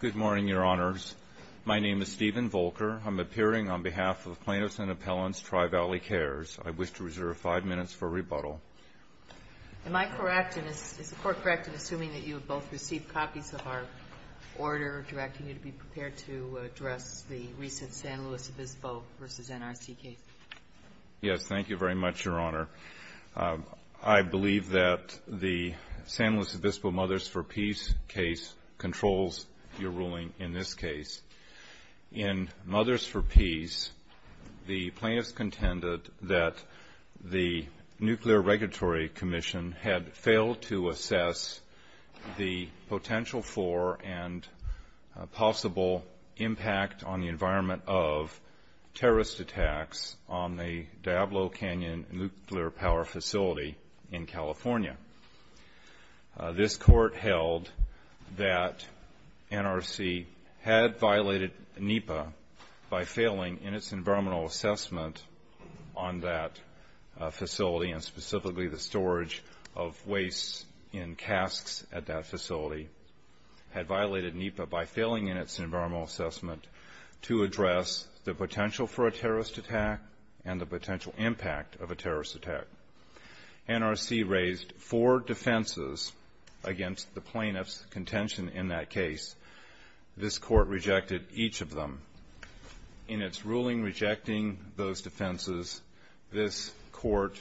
Good morning, Your Honors. My name is Stephen Volker. I'm appearing on behalf of Plaintiffs and Appellants Tri-Valley Cares. I wish to reserve five minutes for rebuttal. Am I correct, and is the Court correct in assuming that you have both received copies of our order directing you to be prepared to address the recent San Luis Obispo v. NRC case? Yes, thank you very much, Your Honor. I believe that the San Luis Obispo Mothers for Peace case controls your ruling in this case. In Mothers for Peace, the plaintiffs contended that the Nuclear Regulatory Commission had failed to assess the potential for and possible impact on the environment of terrorist attacks on the Diablo Canyon nuclear power facility in California. This Court held that NRC had violated NEPA by failing in its environmental assessment on that facility, and specifically the storage of waste in casks at that facility had violated NEPA by failing in its environmental assessment to address the potential for a terrorist attack and the potential impact of a terrorist attack. NRC raised four defenses against the plaintiffs' contention in that case. This Court rejected each of them. In its ruling rejecting those defenses, this Court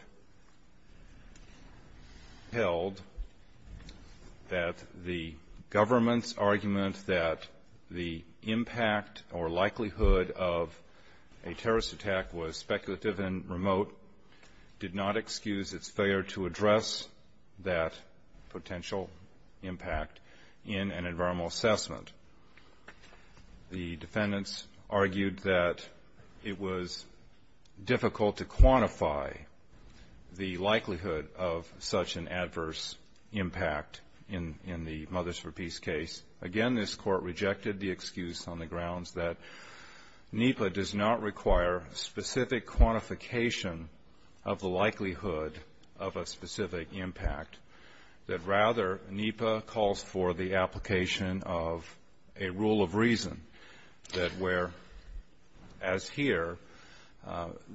held that the government's argument that the impact or likelihood of a terrorist attack was speculative and remote did not exist. This Court excused its failure to address that potential impact in an environmental assessment. The defendants argued that it was difficult to quantify the likelihood of such an adverse impact in the Mothers for Peace case. Again, this Court rejected the excuse on the grounds that NEPA does not require specific quantification of the likelihood of a specific impact, that rather NEPA calls for the application of a rule of reason that where, as here,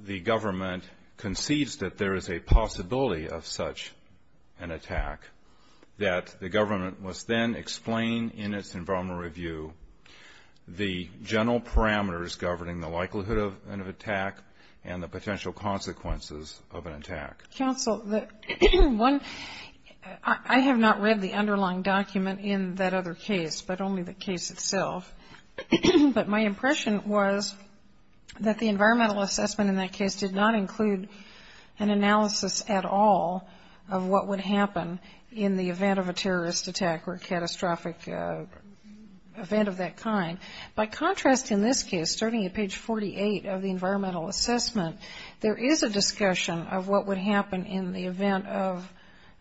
the government concedes that there is a possibility of such an attack, that the government must then explain in its environmental review the general parameters governing the likelihood of an attack and the potential consequences of an attack. Counsel, one, I have not read the underlying document in that other case, but only the case itself. But my impression was that the environmental assessment in that case did not include an analysis at all of what would happen in the event of a terrorist attack or catastrophic event of that kind. By contrast, in this case, starting at page 48 of the environmental assessment, there is a discussion of what would happen in the event of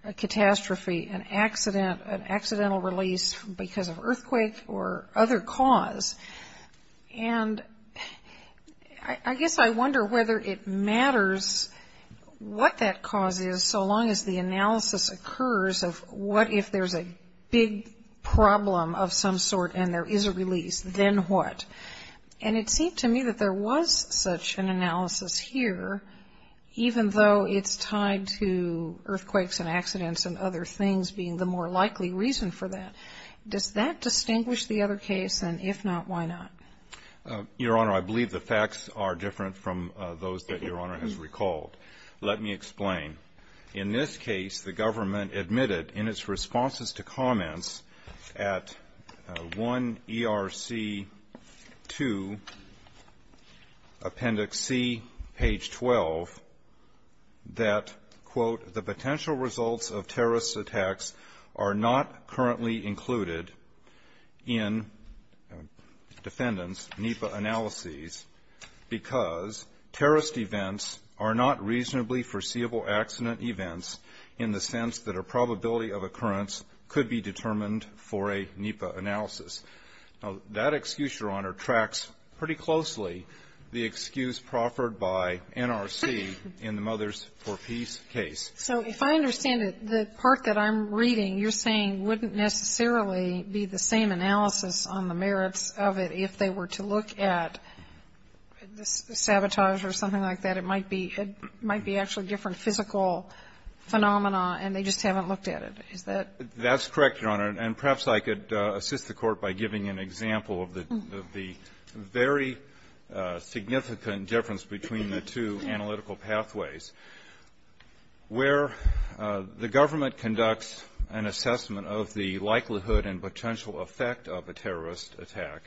a catastrophe, an accident, an accidental release because of earthquake or other cause. And I guess I wonder whether it matters what that cause is so long as the analysis occurs of what if there's a big problem of some sort and there is a release. And then what? And it seemed to me that there was such an analysis here, even though it's tied to earthquakes and accidents and other things being the more likely reason for that. Does that distinguish the other case? And if not, why not? Your Honor, I believe the facts are different from those that Your Honor has recalled. Let me explain. In this case, the government admitted in its responses to comments at 1ERC2, appendix C, page 12, that, quote, the potential results of terrorist attacks are not currently included in defendants' NEPA analyses because terrorist events are not reasonably foreseeable accident events in the sense that a probability of occurrence could be determined for a NEPA analysis. Now, that excuse, Your Honor, tracks pretty closely the excuse proffered by NRC in the Mothers for Peace case. So if I understand it, the part that I'm reading, you're saying wouldn't necessarily be the same analysis on the merits of it if they were to look at the sabotage or something like that. It might be actually different physical phenomena and they just haven't looked at it. Is that? That's correct, Your Honor. And perhaps I could assist the Court by giving an example of the very significant difference between the two analytical pathways. Where the government conducts an assessment of the likelihood and potential effect of a terrorist attack,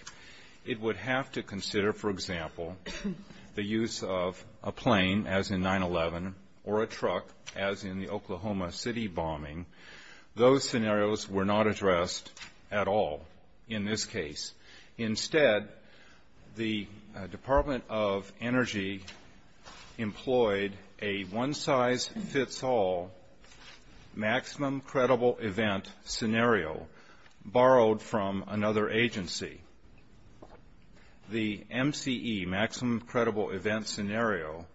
it would have to consider, for example, the use of a plane, as in 9-11, or a truck, as in the Oklahoma City bombing. Those scenarios were not addressed at all in this case. Instead, the Department of Energy employed a one-size-fits-all maximum credible event scenario borrowed from another agency. The MCE, maximum credible event scenario,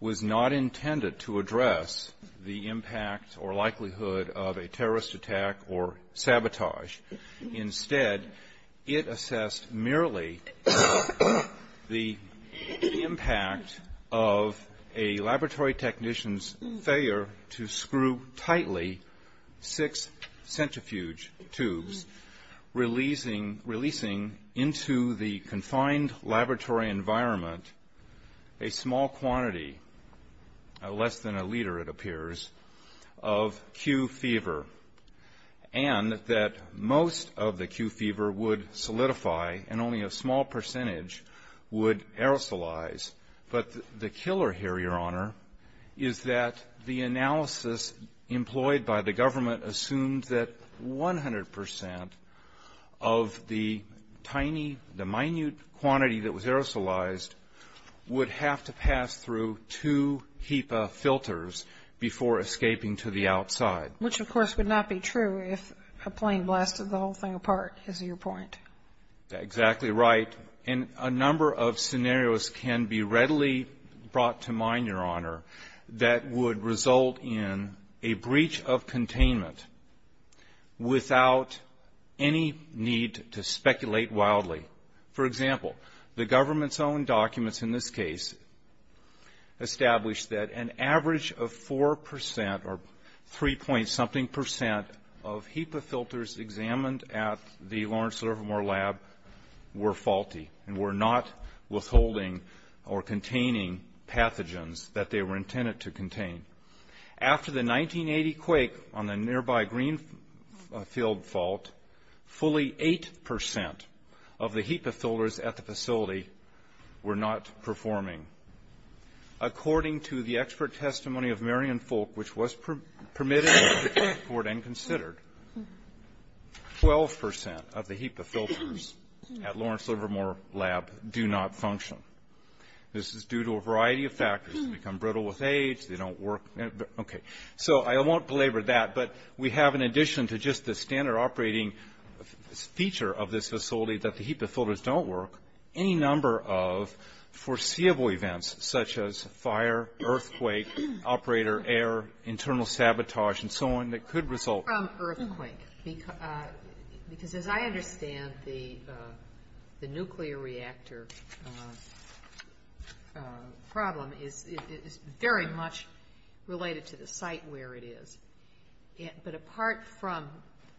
was not intended to address the impact or likelihood of a terrorist attack or sabotage. Instead, it assessed merely the impact of a laboratory technician's failure to screw tightly six centrifuge tubes, releasing into the confined laboratory environment a small quantity, less than a liter, it appears, of Q fever. And that most of the Q fever would solidify and only a small percentage would aerosolize. But the killer here, Your Honor, is that the analysis employed by the government assumed that 100 percent of the tiny, the minute quantity that was aerosolized would have to pass through two HEPA filters before escaping to the outside. Which, of course, would not be true if a plane blasted the whole thing apart, is your point? Exactly right. And a number of scenarios can be readily brought to mind, Your Honor, that would result in a breach of containment without any need to speculate wildly. For example, the government's own documents in this case established that an average of four percent or three-point-something percent of HEPA filters examined at the Lawrence Livermore Lab were faulty and were not withholding or containing pathogens that they were intended to contain. After the 1980 quake on the nearby Greenfield Fault, fully eight percent of the HEPA filters at the facility were not performing. According to the expert testimony of Marion Folk, which was permitted by the court and considered, 12 percent of the HEPA filters at Lawrence Livermore Lab do not function. This is due to a variety of factors. They become brittle with age. They don't work. Okay. So I won't belabor that, but we have, in addition to just the standard operating feature of this facility that the HEPA filters don't work, any number of foreseeable events, such as fire, earthquake, operator error, internal sabotage, and so on, that could result. Apart from earthquake, because as I understand the nuclear reactor problem, it is very much related to the site where it is, but apart from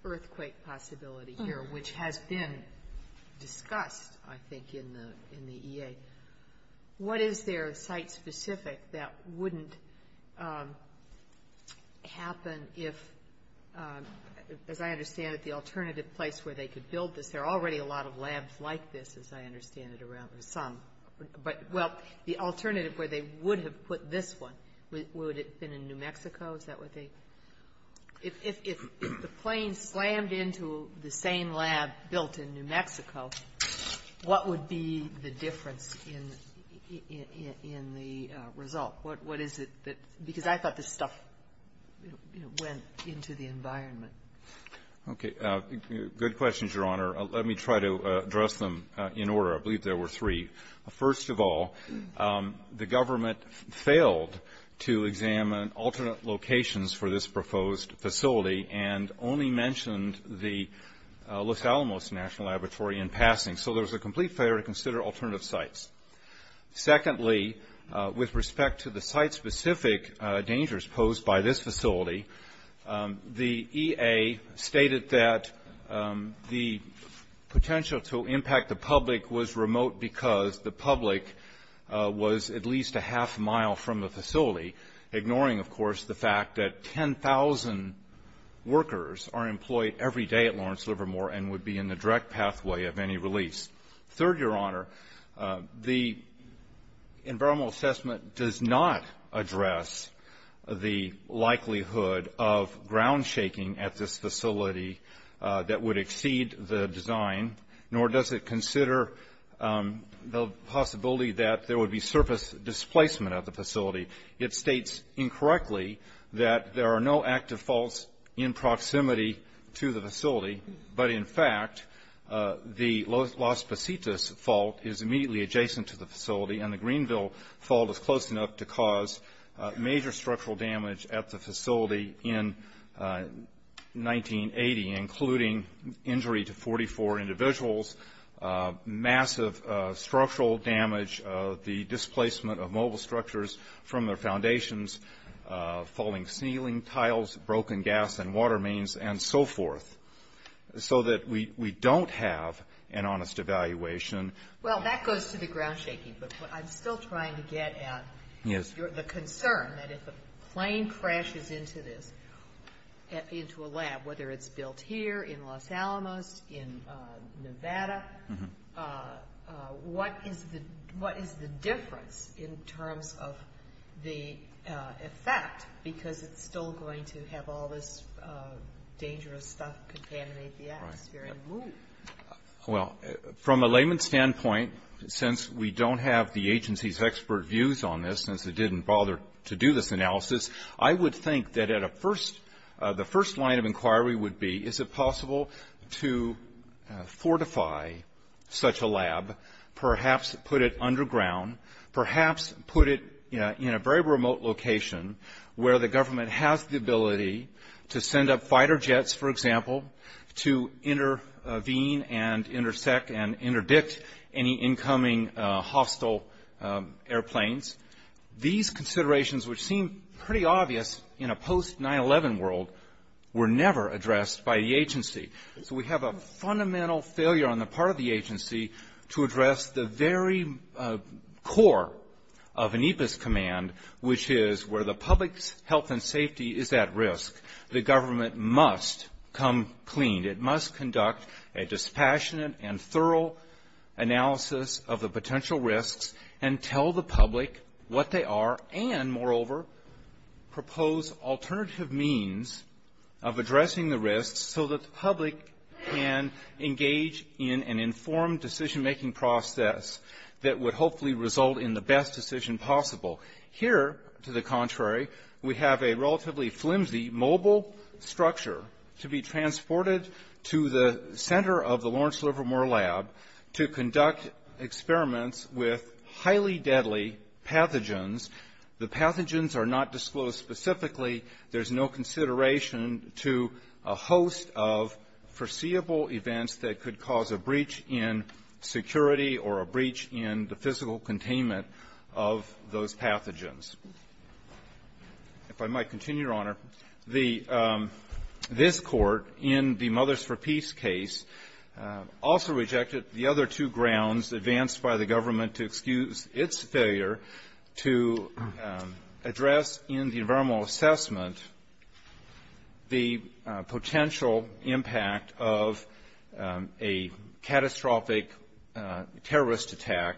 earthquake possibility here, which has been discussed, I think, in the EA, what is there site-specific that wouldn't happen if, as I understand it, the alternative place where they could build this, there are already a lot of labs like this, as I understand it, around, or some, but, well, the alternative where they would have put this one, would it have been in New Mexico? Is that what they, if the plane slammed into the same lab built in New Mexico, what would be the difference in the result? What is it that, because I thought this stuff, you know, went into the environment. Okay. Good questions, Your Honor. Let me try to address them in order. I believe there were three. First of all, the government failed to examine alternate locations for this proposed facility and only mentioned the Los Alamos National Laboratory in passing, so there was a complete failure to consider alternative sites. Secondly, with respect to the site-specific dangers posed by this facility, the EA stated that the potential to impact the public was remote because the public was at least a half mile from the facility, ignoring, of course, the fact that 10,000 workers are employed every day at Lawrence Livermore and would be in the direct pathway of any release. Third, Your Honor, the environmental assessment does not address the likelihood of ground shaking at this facility that would exceed the design, nor does it consider the possibility that there would be surface displacement of the facility. It states incorrectly that there are no active faults in proximity to the facility, but in fact, the Las Positas Fault is immediately adjacent to the facility, and the Greenville Fault is close enough to cause major structural damage at the facility in 1980, including injury to 44 individuals, massive structural damage, the displacement of mobile structures from their foundations, falling ceiling tiles, broken gas and water mains, and so forth, so that we don't have an honest evaluation. Well, that goes to the ground shaking, but what I'm still trying to get at is the concern that if a plane crashes into this, into a lab, whether it's built here, in Los Alamos, in Nevada, what is the difference in terms of the effect, because it's still going to have all this dangerous stuff contaminate the atmosphere and move? Well, from a layman's standpoint, since we don't have the agency's expert views on this, since they didn't bother to do this analysis, I would think that the first line of inquiry would be, is it possible to fortify such a lab, perhaps put it underground, perhaps put it in a very remote location where the government has the ability to send up fighter jets, for example, to intervene and intersect and interdict any incoming hostile airplanes? These considerations, which seem pretty obvious in a post-9-11 world, were never addressed by the agency. So we have a fundamental failure on the part of the agency to address the very core of ANIPA's command, which is where the public's health and safety is at risk. The government must come clean. It must conduct a dispassionate and thorough analysis of the potential risks and tell the public what they are and, moreover, propose alternative means of addressing the risks so that the public can engage in an informed decision-making process that would hopefully result in the best decision possible. Here, to the contrary, we have a relatively flimsy mobile structure to be transported to the center of the Lawrence Livermore Lab to conduct experiments with highly deadly pathogens. The pathogens are not disclosed specifically. There's no consideration to a host of foreseeable events that could cause a breach in security or a breach in the physical containment of those pathogens. If I might continue, Your Honor, this Court, in the Mothers for Peace case, also rejected the other two grounds advanced by the government to excuse its failure to address in the environmental assessment the potential impact of a catastrophic terrorist attack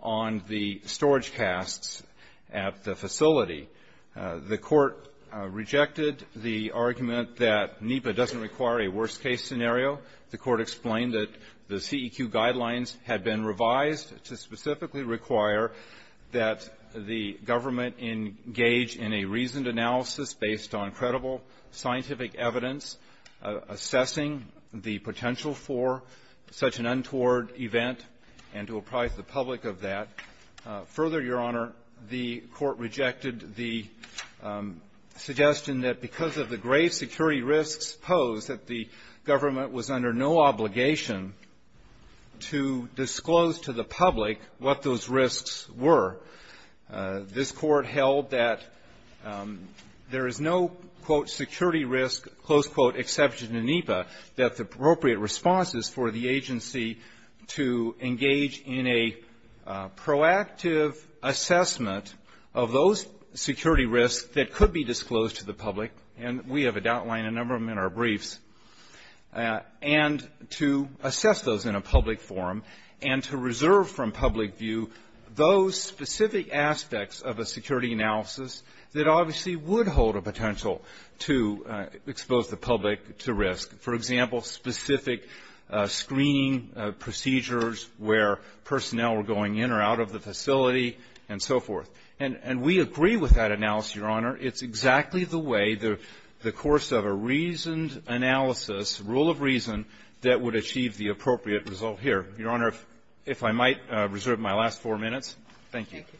on the storage casts at the facility. The Court rejected the argument that NIPA doesn't require a worst-case scenario. The Court explained that the CEQ guidelines had been revised to specifically require that the government engage in a reasoned analysis based on credible scientific evidence assessing the potential for such an untoward event and to apprise the public of that. Further, Your Honor, the Court rejected the suggestion that because of the grave security risks posed that the government was under no obligation to disclose to the public what those risks were. This Court held that there is no, quote, security risk, close quote, exception in NIPA, that the appropriate response is for the agency to engage in a proactive assessment of those security risks that could be disclosed to the public, and we have a doubt line a number of them in our briefs, and to assess those in a public forum and to reserve from public view those specific aspects of a security analysis that obviously would hold a potential to expose the public to risk. For example, specific screening procedures where personnel were going in or out of the facility and so forth. And we agree with that analysis, Your Honor. It's exactly the way the course of a reasoned analysis, rule of reason, that would achieve the appropriate result here. Your Honor, if I might, reserve my last four minutes. Thank you. Thank you.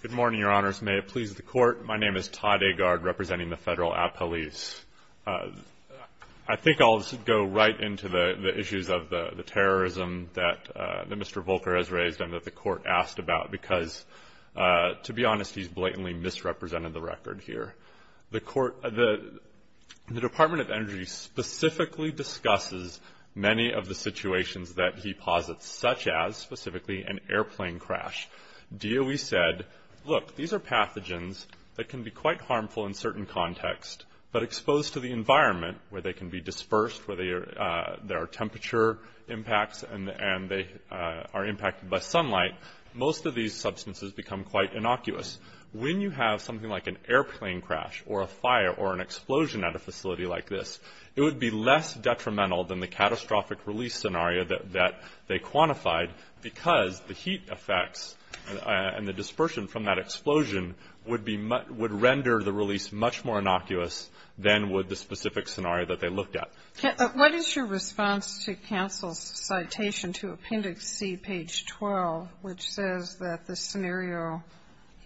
Good morning, Your Honors. May it please the Court. My name is Todd Agard, representing the Federal Appellees. I think I'll go right into the issues of the terrorism that Mr. Volcker has raised and that the Court asked about because, to be honest, he's blatantly misrepresented the record here. The Department of Energy specifically discusses many of the situations that he posits, such as, specifically, an airplane crash. DOE said, look, these are pathogens that can be quite harmful in certain contexts, but exposed to the environment where they can be dispersed, where there are temperature impacts, and they are impacted by sunlight, most of these substances become quite innocuous. When you have something like an airplane crash or a fire or an explosion at a facility like this, it would be less detrimental than the catastrophic release scenario that they quantified because the heat effects and the dispersion from that explosion would render the release much more innocuous than would the specific scenario that they looked at. What is your response to counsel's citation to Appendix C, page 12, which says that this scenario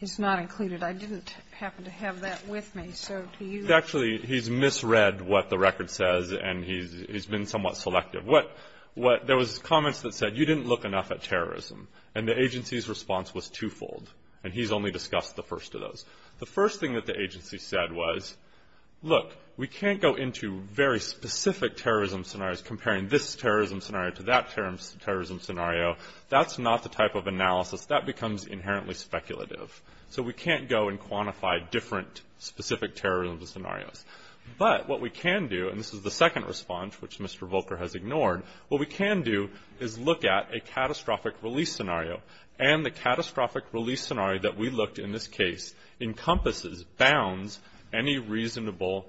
is not included? I didn't happen to have that with me, so do you? Actually, he's misread what the record says, and he's been somewhat selective. What there was comments that said you didn't look enough at terrorism, and the agency's response was twofold, The first thing that the agency said was, look, we can't go into very specific terrorism scenarios, comparing this terrorism scenario to that terrorism scenario. That's not the type of analysis. That becomes inherently speculative. So we can't go and quantify different specific terrorism scenarios. But what we can do, and this is the second response, which Mr. Volker has ignored, what we can do is look at a catastrophic release scenario, and the catastrophic release scenario that we looked in this case encompasses, bounds any reasonable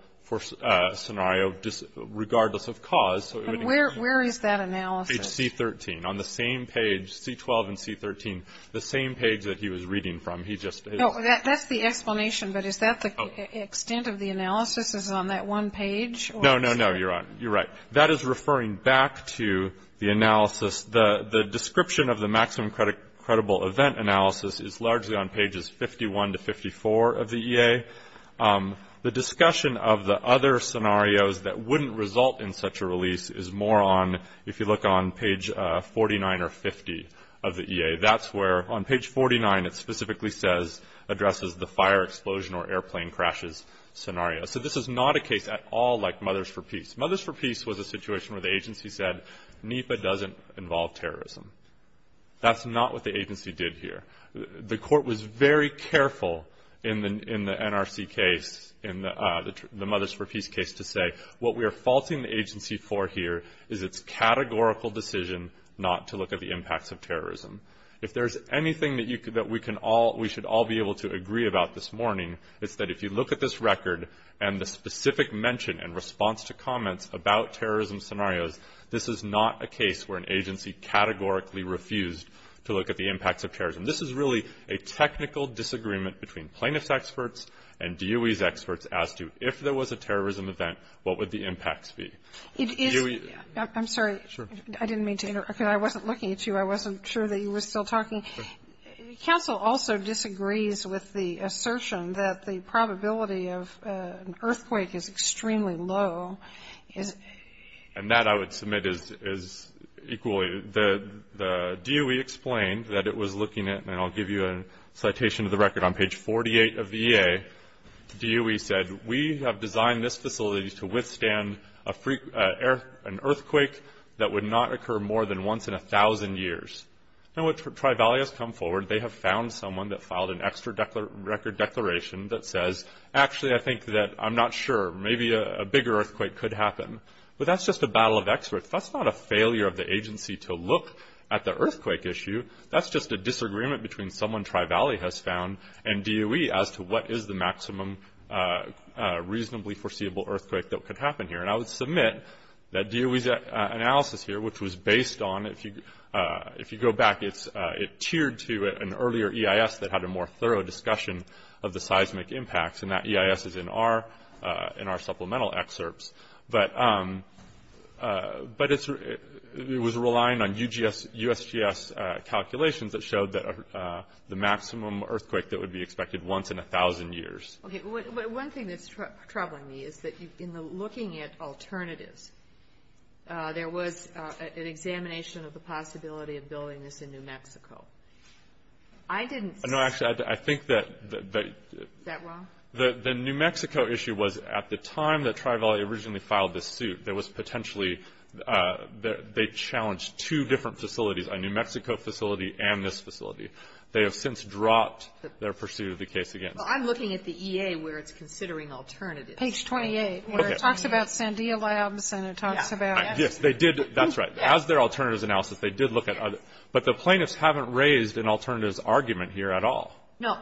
scenario, regardless of cause. Where is that analysis? Page C13, on the same page, C12 and C13, the same page that he was reading from. That's the explanation, but is that the extent of the analysis is on that one page? No, no, no, you're right. That is referring back to the analysis. The description of the maximum credible event analysis is largely on pages 51 to 54 of the EA. The discussion of the other scenarios that wouldn't result in such a release is more on, if you look on page 49 or 50 of the EA. That's where, on page 49, it specifically says, addresses the fire explosion or airplane crashes scenario. So this is not a case at all like Mothers for Peace. Mothers for Peace was a situation where the agency said, NEPA doesn't involve terrorism. That's not what the agency did here. The court was very careful in the NRC case, in the Mothers for Peace case, to say, what we are faulting the agency for here is its categorical decision not to look at the impacts of terrorism. If there's anything that we should all be able to agree about this morning, it's that if you look at this record and the specific mention and response to comments about terrorism scenarios, this is not a case where an agency categorically refused to look at the impacts of terrorism. This is really a technical disagreement between plaintiff's experts and DOE's experts as to if there was a terrorism event, what would the impacts be? It is, I'm sorry, I didn't mean to interrupt because I wasn't looking at you. I wasn't sure that you were still talking. Counsel also disagrees with the assertion that the probability of an earthquake is extremely low. And that, I would submit, is equally. The DOE explained that it was looking at, and I'll give you a citation of the record on page 48 of the EA. DOE said, we have designed this facility to withstand an earthquake that would not occur more than once in 1,000 years. Now, Tri-Valley has come forward. They have found someone that filed an extra record declaration that says, actually, I think that, I'm not sure, maybe a bigger earthquake could happen. But that's just a battle of experts. That's not a failure of the agency to look at the earthquake issue. That's just a disagreement between someone Tri-Valley has found and DOE as to what is the maximum reasonably foreseeable earthquake that could happen here. And I would submit that DOE's analysis here, which was based on, if you go back, it tiered to an earlier EIS that had a more thorough discussion of the seismic impacts. And that EIS is in our supplemental excerpts. But it was relying on USGS calculations that showed the maximum earthquake that would be expected once in 1,000 years. Okay. One thing that's troubling me is that in the looking at alternatives, there was an examination of the possibility of building this in New Mexico. I didn't see that. No, actually, I think that the New Mexico issue was at the time that Tri-Valley originally filed this suit, there was potentially, they challenged two different facilities, a New Mexico facility and this facility. They have since dropped their pursuit of the case again. So I'm looking at the EA where it's considering alternatives. Page 28, where it talks about Sandia Labs and it talks about. Yes, they did. That's right. As their alternatives analysis, they did look at other. But the plaintiffs haven't raised an alternatives argument here at all. No.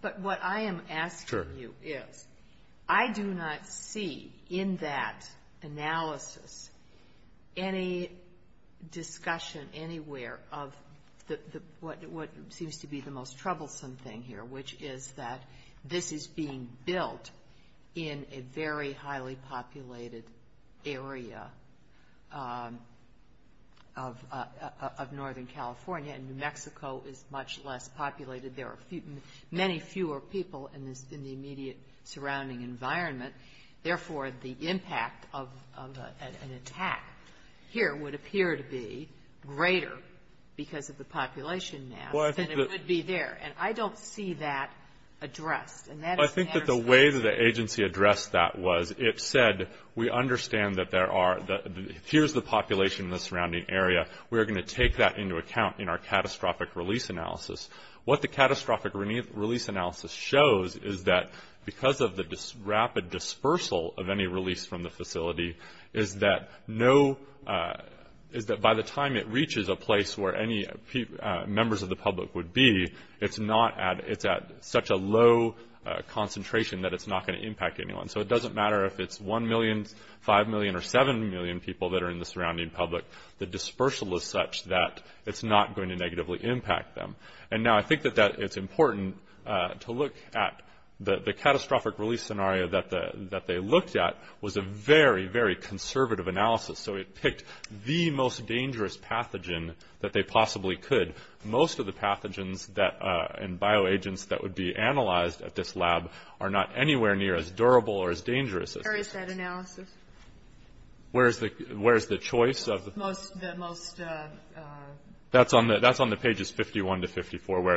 But what I am asking you is, I do not see in that analysis any discussion anywhere of what seems to be the most troublesome thing here, which is that this is being built in a very highly populated area of northern California. And New Mexico is much less populated. There are many fewer people in the immediate surrounding environment. Therefore, the impact of an attack here would appear to be greater because of the population now than it would be there. And I don't see that addressed. I think that the way that the agency addressed that was it said, we understand that there are, here's the population in the surrounding area. We are going to take that into account in our catastrophic release analysis. What the catastrophic release analysis shows is that because of the rapid dispersal of any release from the facility, is that by the time it reaches a place where any members of the public would be, it's at such a low concentration that it's not going to impact anyone. So it doesn't matter if it's 1 million, 5 million, or 7 million people that are in the surrounding public. The dispersal is such that it's not going to negatively impact them. And now I think that it's important to look at the catastrophic release scenario that they looked at was a very, very conservative analysis. So it picked the most dangerous pathogen that they possibly could. Most of the pathogens and bioagents that would be analyzed at this lab are not anywhere near as durable or as dangerous as this. Where is that analysis? Where is the choice of? That's on the pages 51 to 54.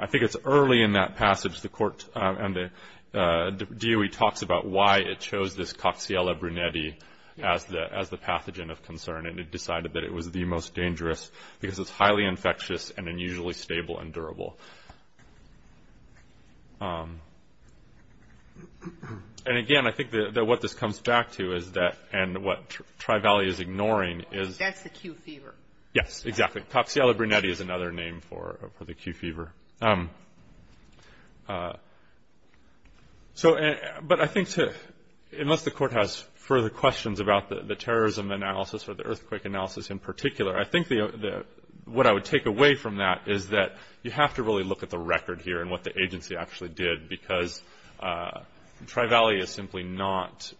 I think it's early in that passage the DOE talks about why it chose this Coxiella brunetti as the pathogen of concern. And it decided that it was the most dangerous because it's highly infectious and unusually stable and durable. And again, I think that what this comes back to is that, and what Tri-Valley is ignoring is. That's the Q fever. Yes, exactly. Coxiella brunetti is another name for the Q fever. So, but I think to, unless the court has further questions about the terrorism analysis or the earthquake analysis in particular, I think what I would take away from that is that you have to really look at the record here and what the agency actually did. Because Tri-Valley is simply not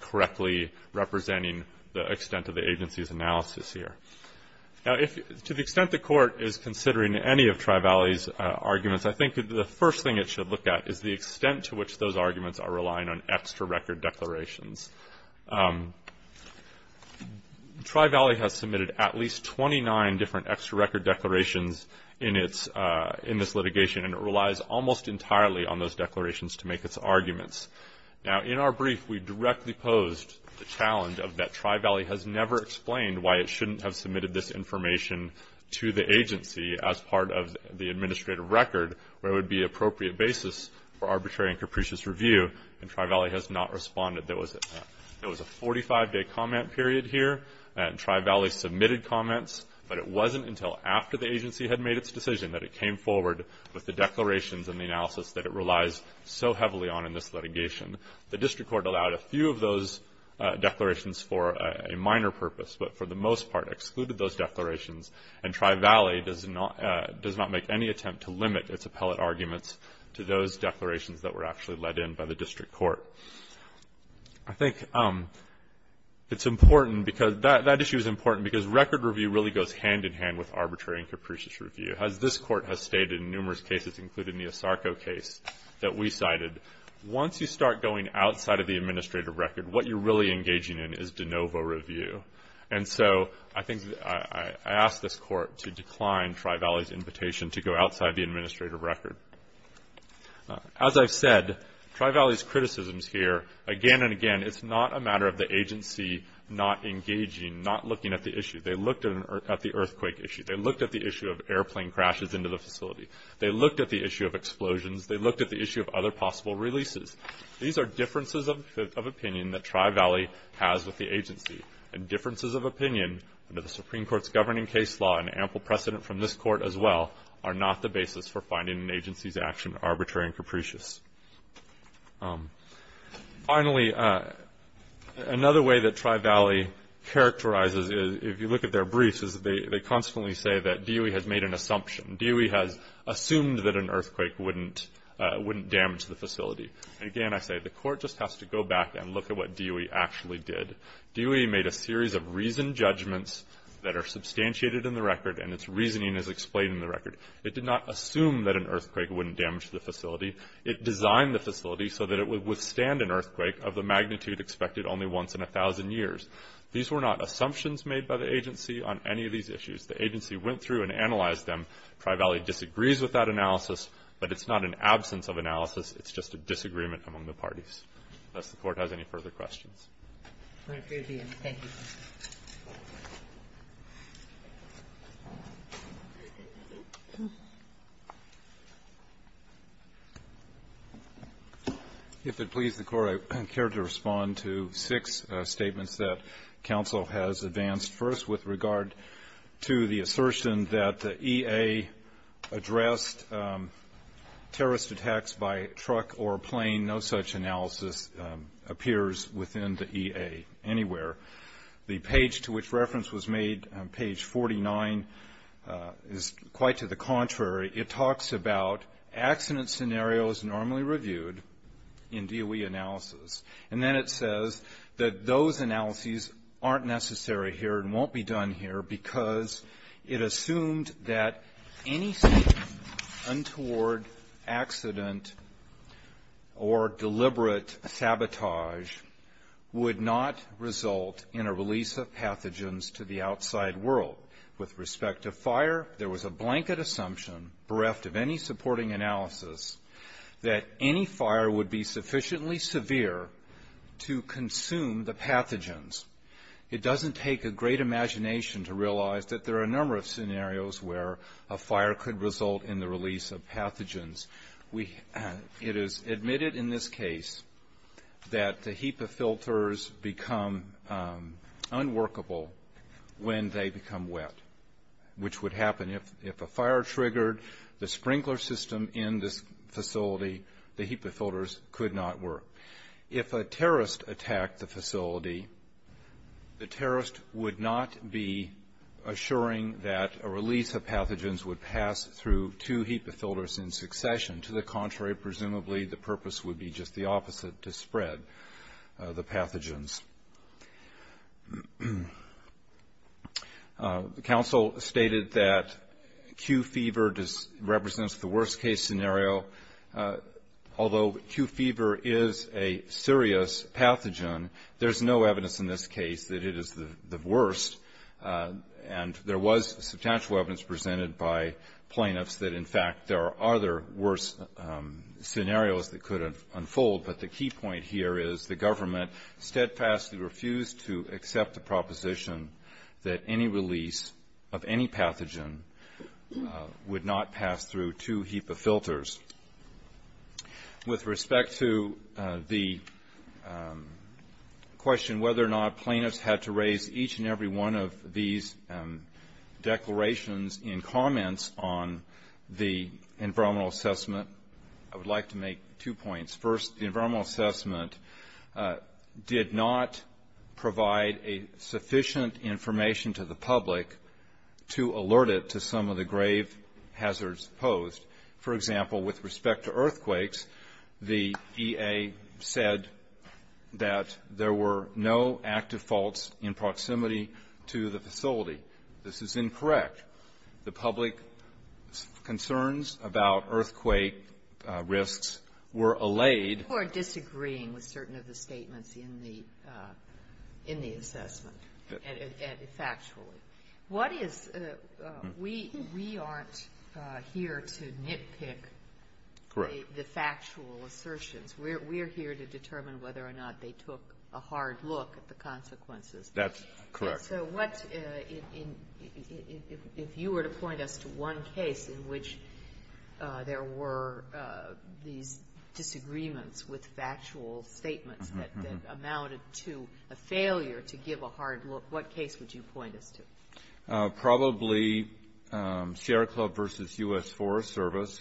correctly representing the extent of the agency's analysis here. Now, to the extent the court is considering any of Tri-Valley's arguments, I think the first thing it should look at is the extent to which those arguments are relying on extra record declarations. Tri-Valley has submitted at least 29 different extra record declarations in this litigation. And it relies almost entirely on those declarations to make its arguments. Now, in our brief, we directly posed the challenge of that Tri-Valley has never explained why it shouldn't have submitted this information to the agency as part of the administrative record where it would be an appropriate basis for arbitrary and capricious review. And Tri-Valley has not responded. There was a 45-day comment period here. Tri-Valley submitted comments, but it wasn't until after the agency had made its decision that it came forward with the declarations and the analysis that it relies so heavily on in this litigation. The district court allowed a few of those declarations for a minor purpose, but for the most part excluded those declarations. And Tri-Valley does not make any attempt to limit its appellate arguments to those declarations that were actually let in by the district court. I think it's important because that issue is important because record review really goes hand-in-hand with arbitrary and capricious review. As this court has stated in numerous cases, including the ASARCO case that we cited, once you start going outside of the administrative record, what you're really engaging in is de novo review. And so I think I asked this court to decline Tri-Valley's invitation to go outside the administrative record. As I've said, Tri-Valley's criticisms here, again and again, it's not a matter of the agency not engaging, not looking at the issue. They looked at the earthquake issue. They looked at the issue of airplane crashes into the facility. They looked at the issue of explosions. They looked at the issue of other possible releases. These are differences of opinion that Tri-Valley has with the agency, and differences of opinion under the Supreme Court's governing case law and ample precedent from this court as well are not the basis for finding an agency's action arbitrary and capricious. Finally, another way that Tri-Valley characterizes, if you look at their briefs, is they constantly say that DOE has made an assumption. DOE has assumed that an earthquake wouldn't damage the facility. Again, I say the court just has to go back and look at what DOE actually did. DOE made a series of reasoned judgments that are substantiated in the record, and its reasoning is explained in the record. It did not assume that an earthquake wouldn't damage the facility. It designed the facility so that it would withstand an earthquake of the magnitude expected only once in 1,000 years. These were not assumptions made by the agency on any of these issues. The agency went through and analyzed them. Tri-Valley disagrees with that analysis, but it's not an absence of analysis. It's just a disagreement among the parties. Unless the court has any further questions. Thank you. If it pleases the Court, I care to respond to six statements that counsel has advanced. First, with regard to the assertion that the EA addressed terrorist attacks by truck or plane, no such analysis appears within the EA anywhere. The page to which reference was made, page 49, is quite to the contrary. It talks about accident scenarios normally reviewed in DOE analysis, and then it says that those analyses aren't necessary here and won't be done here because it assumed that any statement untoward accident or deliberate sabotage would not result in a release of pathogens to the outside world. With respect to fire, there was a blanket assumption bereft of any supporting analysis that any fire would be sufficiently severe to consume the pathogens. It doesn't take a great imagination to realize that there are a number of scenarios where a fire could result in the release of pathogens. It is admitted in this case that the HEPA filters become unworkable when they become wet, which would happen. If a fire triggered the sprinkler system in this facility, the HEPA filters could not work. If a terrorist attacked the facility, the terrorist would not be assuring that a release of pathogens would pass through two HEPA filters in succession. To the contrary, presumably the purpose would be just the opposite, to spread the pathogens. The council stated that Q fever represents the worst case scenario. Although Q fever is a serious pathogen, there's no evidence in this case that it is the worst, and there was substantial evidence presented by plaintiffs that, in fact, there are other worse scenarios that could unfold. But the key point here is the government steadfastly refused to accept the proposition that any release of any pathogen would not pass through two HEPA filters. With respect to the question whether or not plaintiffs had to raise each and every one of these declarations in comments on the environmental assessment, I would like to make two points. First, the environmental assessment did not provide sufficient information to the public to alert it to some of the grave hazards posed. For example, with respect to earthquakes, the EA said that there were no active faults in proximity to the facility. This is incorrect. The public concerns about earthquake risks were allayed. You are disagreeing with certain of the statements in the assessment, factually. What is we aren't here to nitpick the factual assertions. We are here to determine whether or not they took a hard look at the consequences. That's correct. And so what if you were to point us to one case in which there were these disagreements with factual statements that amounted to a failure to give a hard look, what case would you point us to? Probably Sierra Club v. U.S. Forest Service,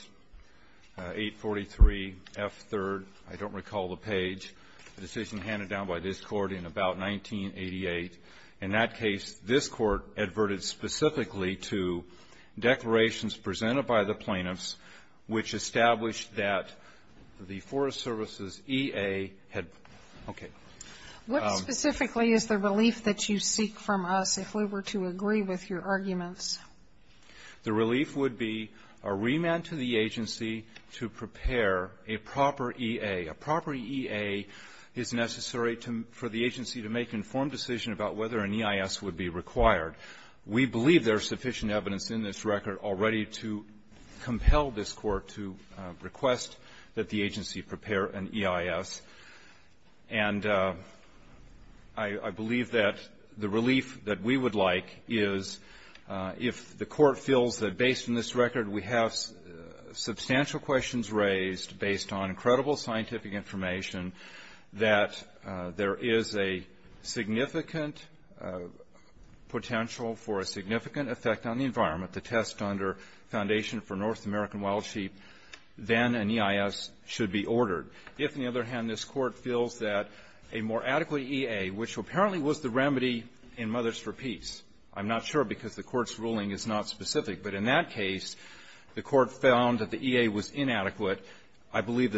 843 F. 3rd. I don't recall the page. A decision handed down by this Court in about 1988. In that case, this Court adverted specifically to declarations presented by the plaintiffs which established that the Forest Service's EA had okay. What specifically is the relief that you seek from us if we were to agree with your arguments? The relief would be a remand to the agency to prepare a proper EA. A proper EA is necessary for the agency to make informed decision about whether an EIS would be required. We believe there's sufficient evidence in this record already to compel this Court to request that the agency prepare an EIS. And I believe that the relief that we would like is if the Court feels that based on this record we have substantial questions raised based on credible scientific information that there is a significant potential for a significant effect on the environment to test under Foundation for North American Wild Sheep, then an EIS should be ordered. If, on the other hand, this Court feels that a more adequate EA, which apparently was the remedy in Mothers for Peace. I'm not sure because the Court's ruling is not specific. But in that case, the Court found that the EA was inadequate. I believe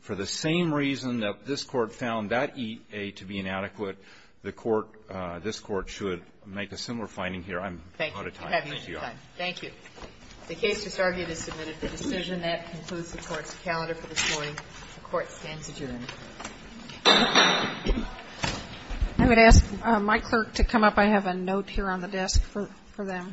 for the same reason that this Court found that EA to be inadequate, the Court, this Court should make a similar finding here. I'm out of time. Thank you. You have your time. Thank you. The case disargued is submitted for decision. That concludes the Court's calendar for this morning. The Court stands adjourned. I would ask my clerk to come up. I have a note here on the desk for them. Okay. Thank you.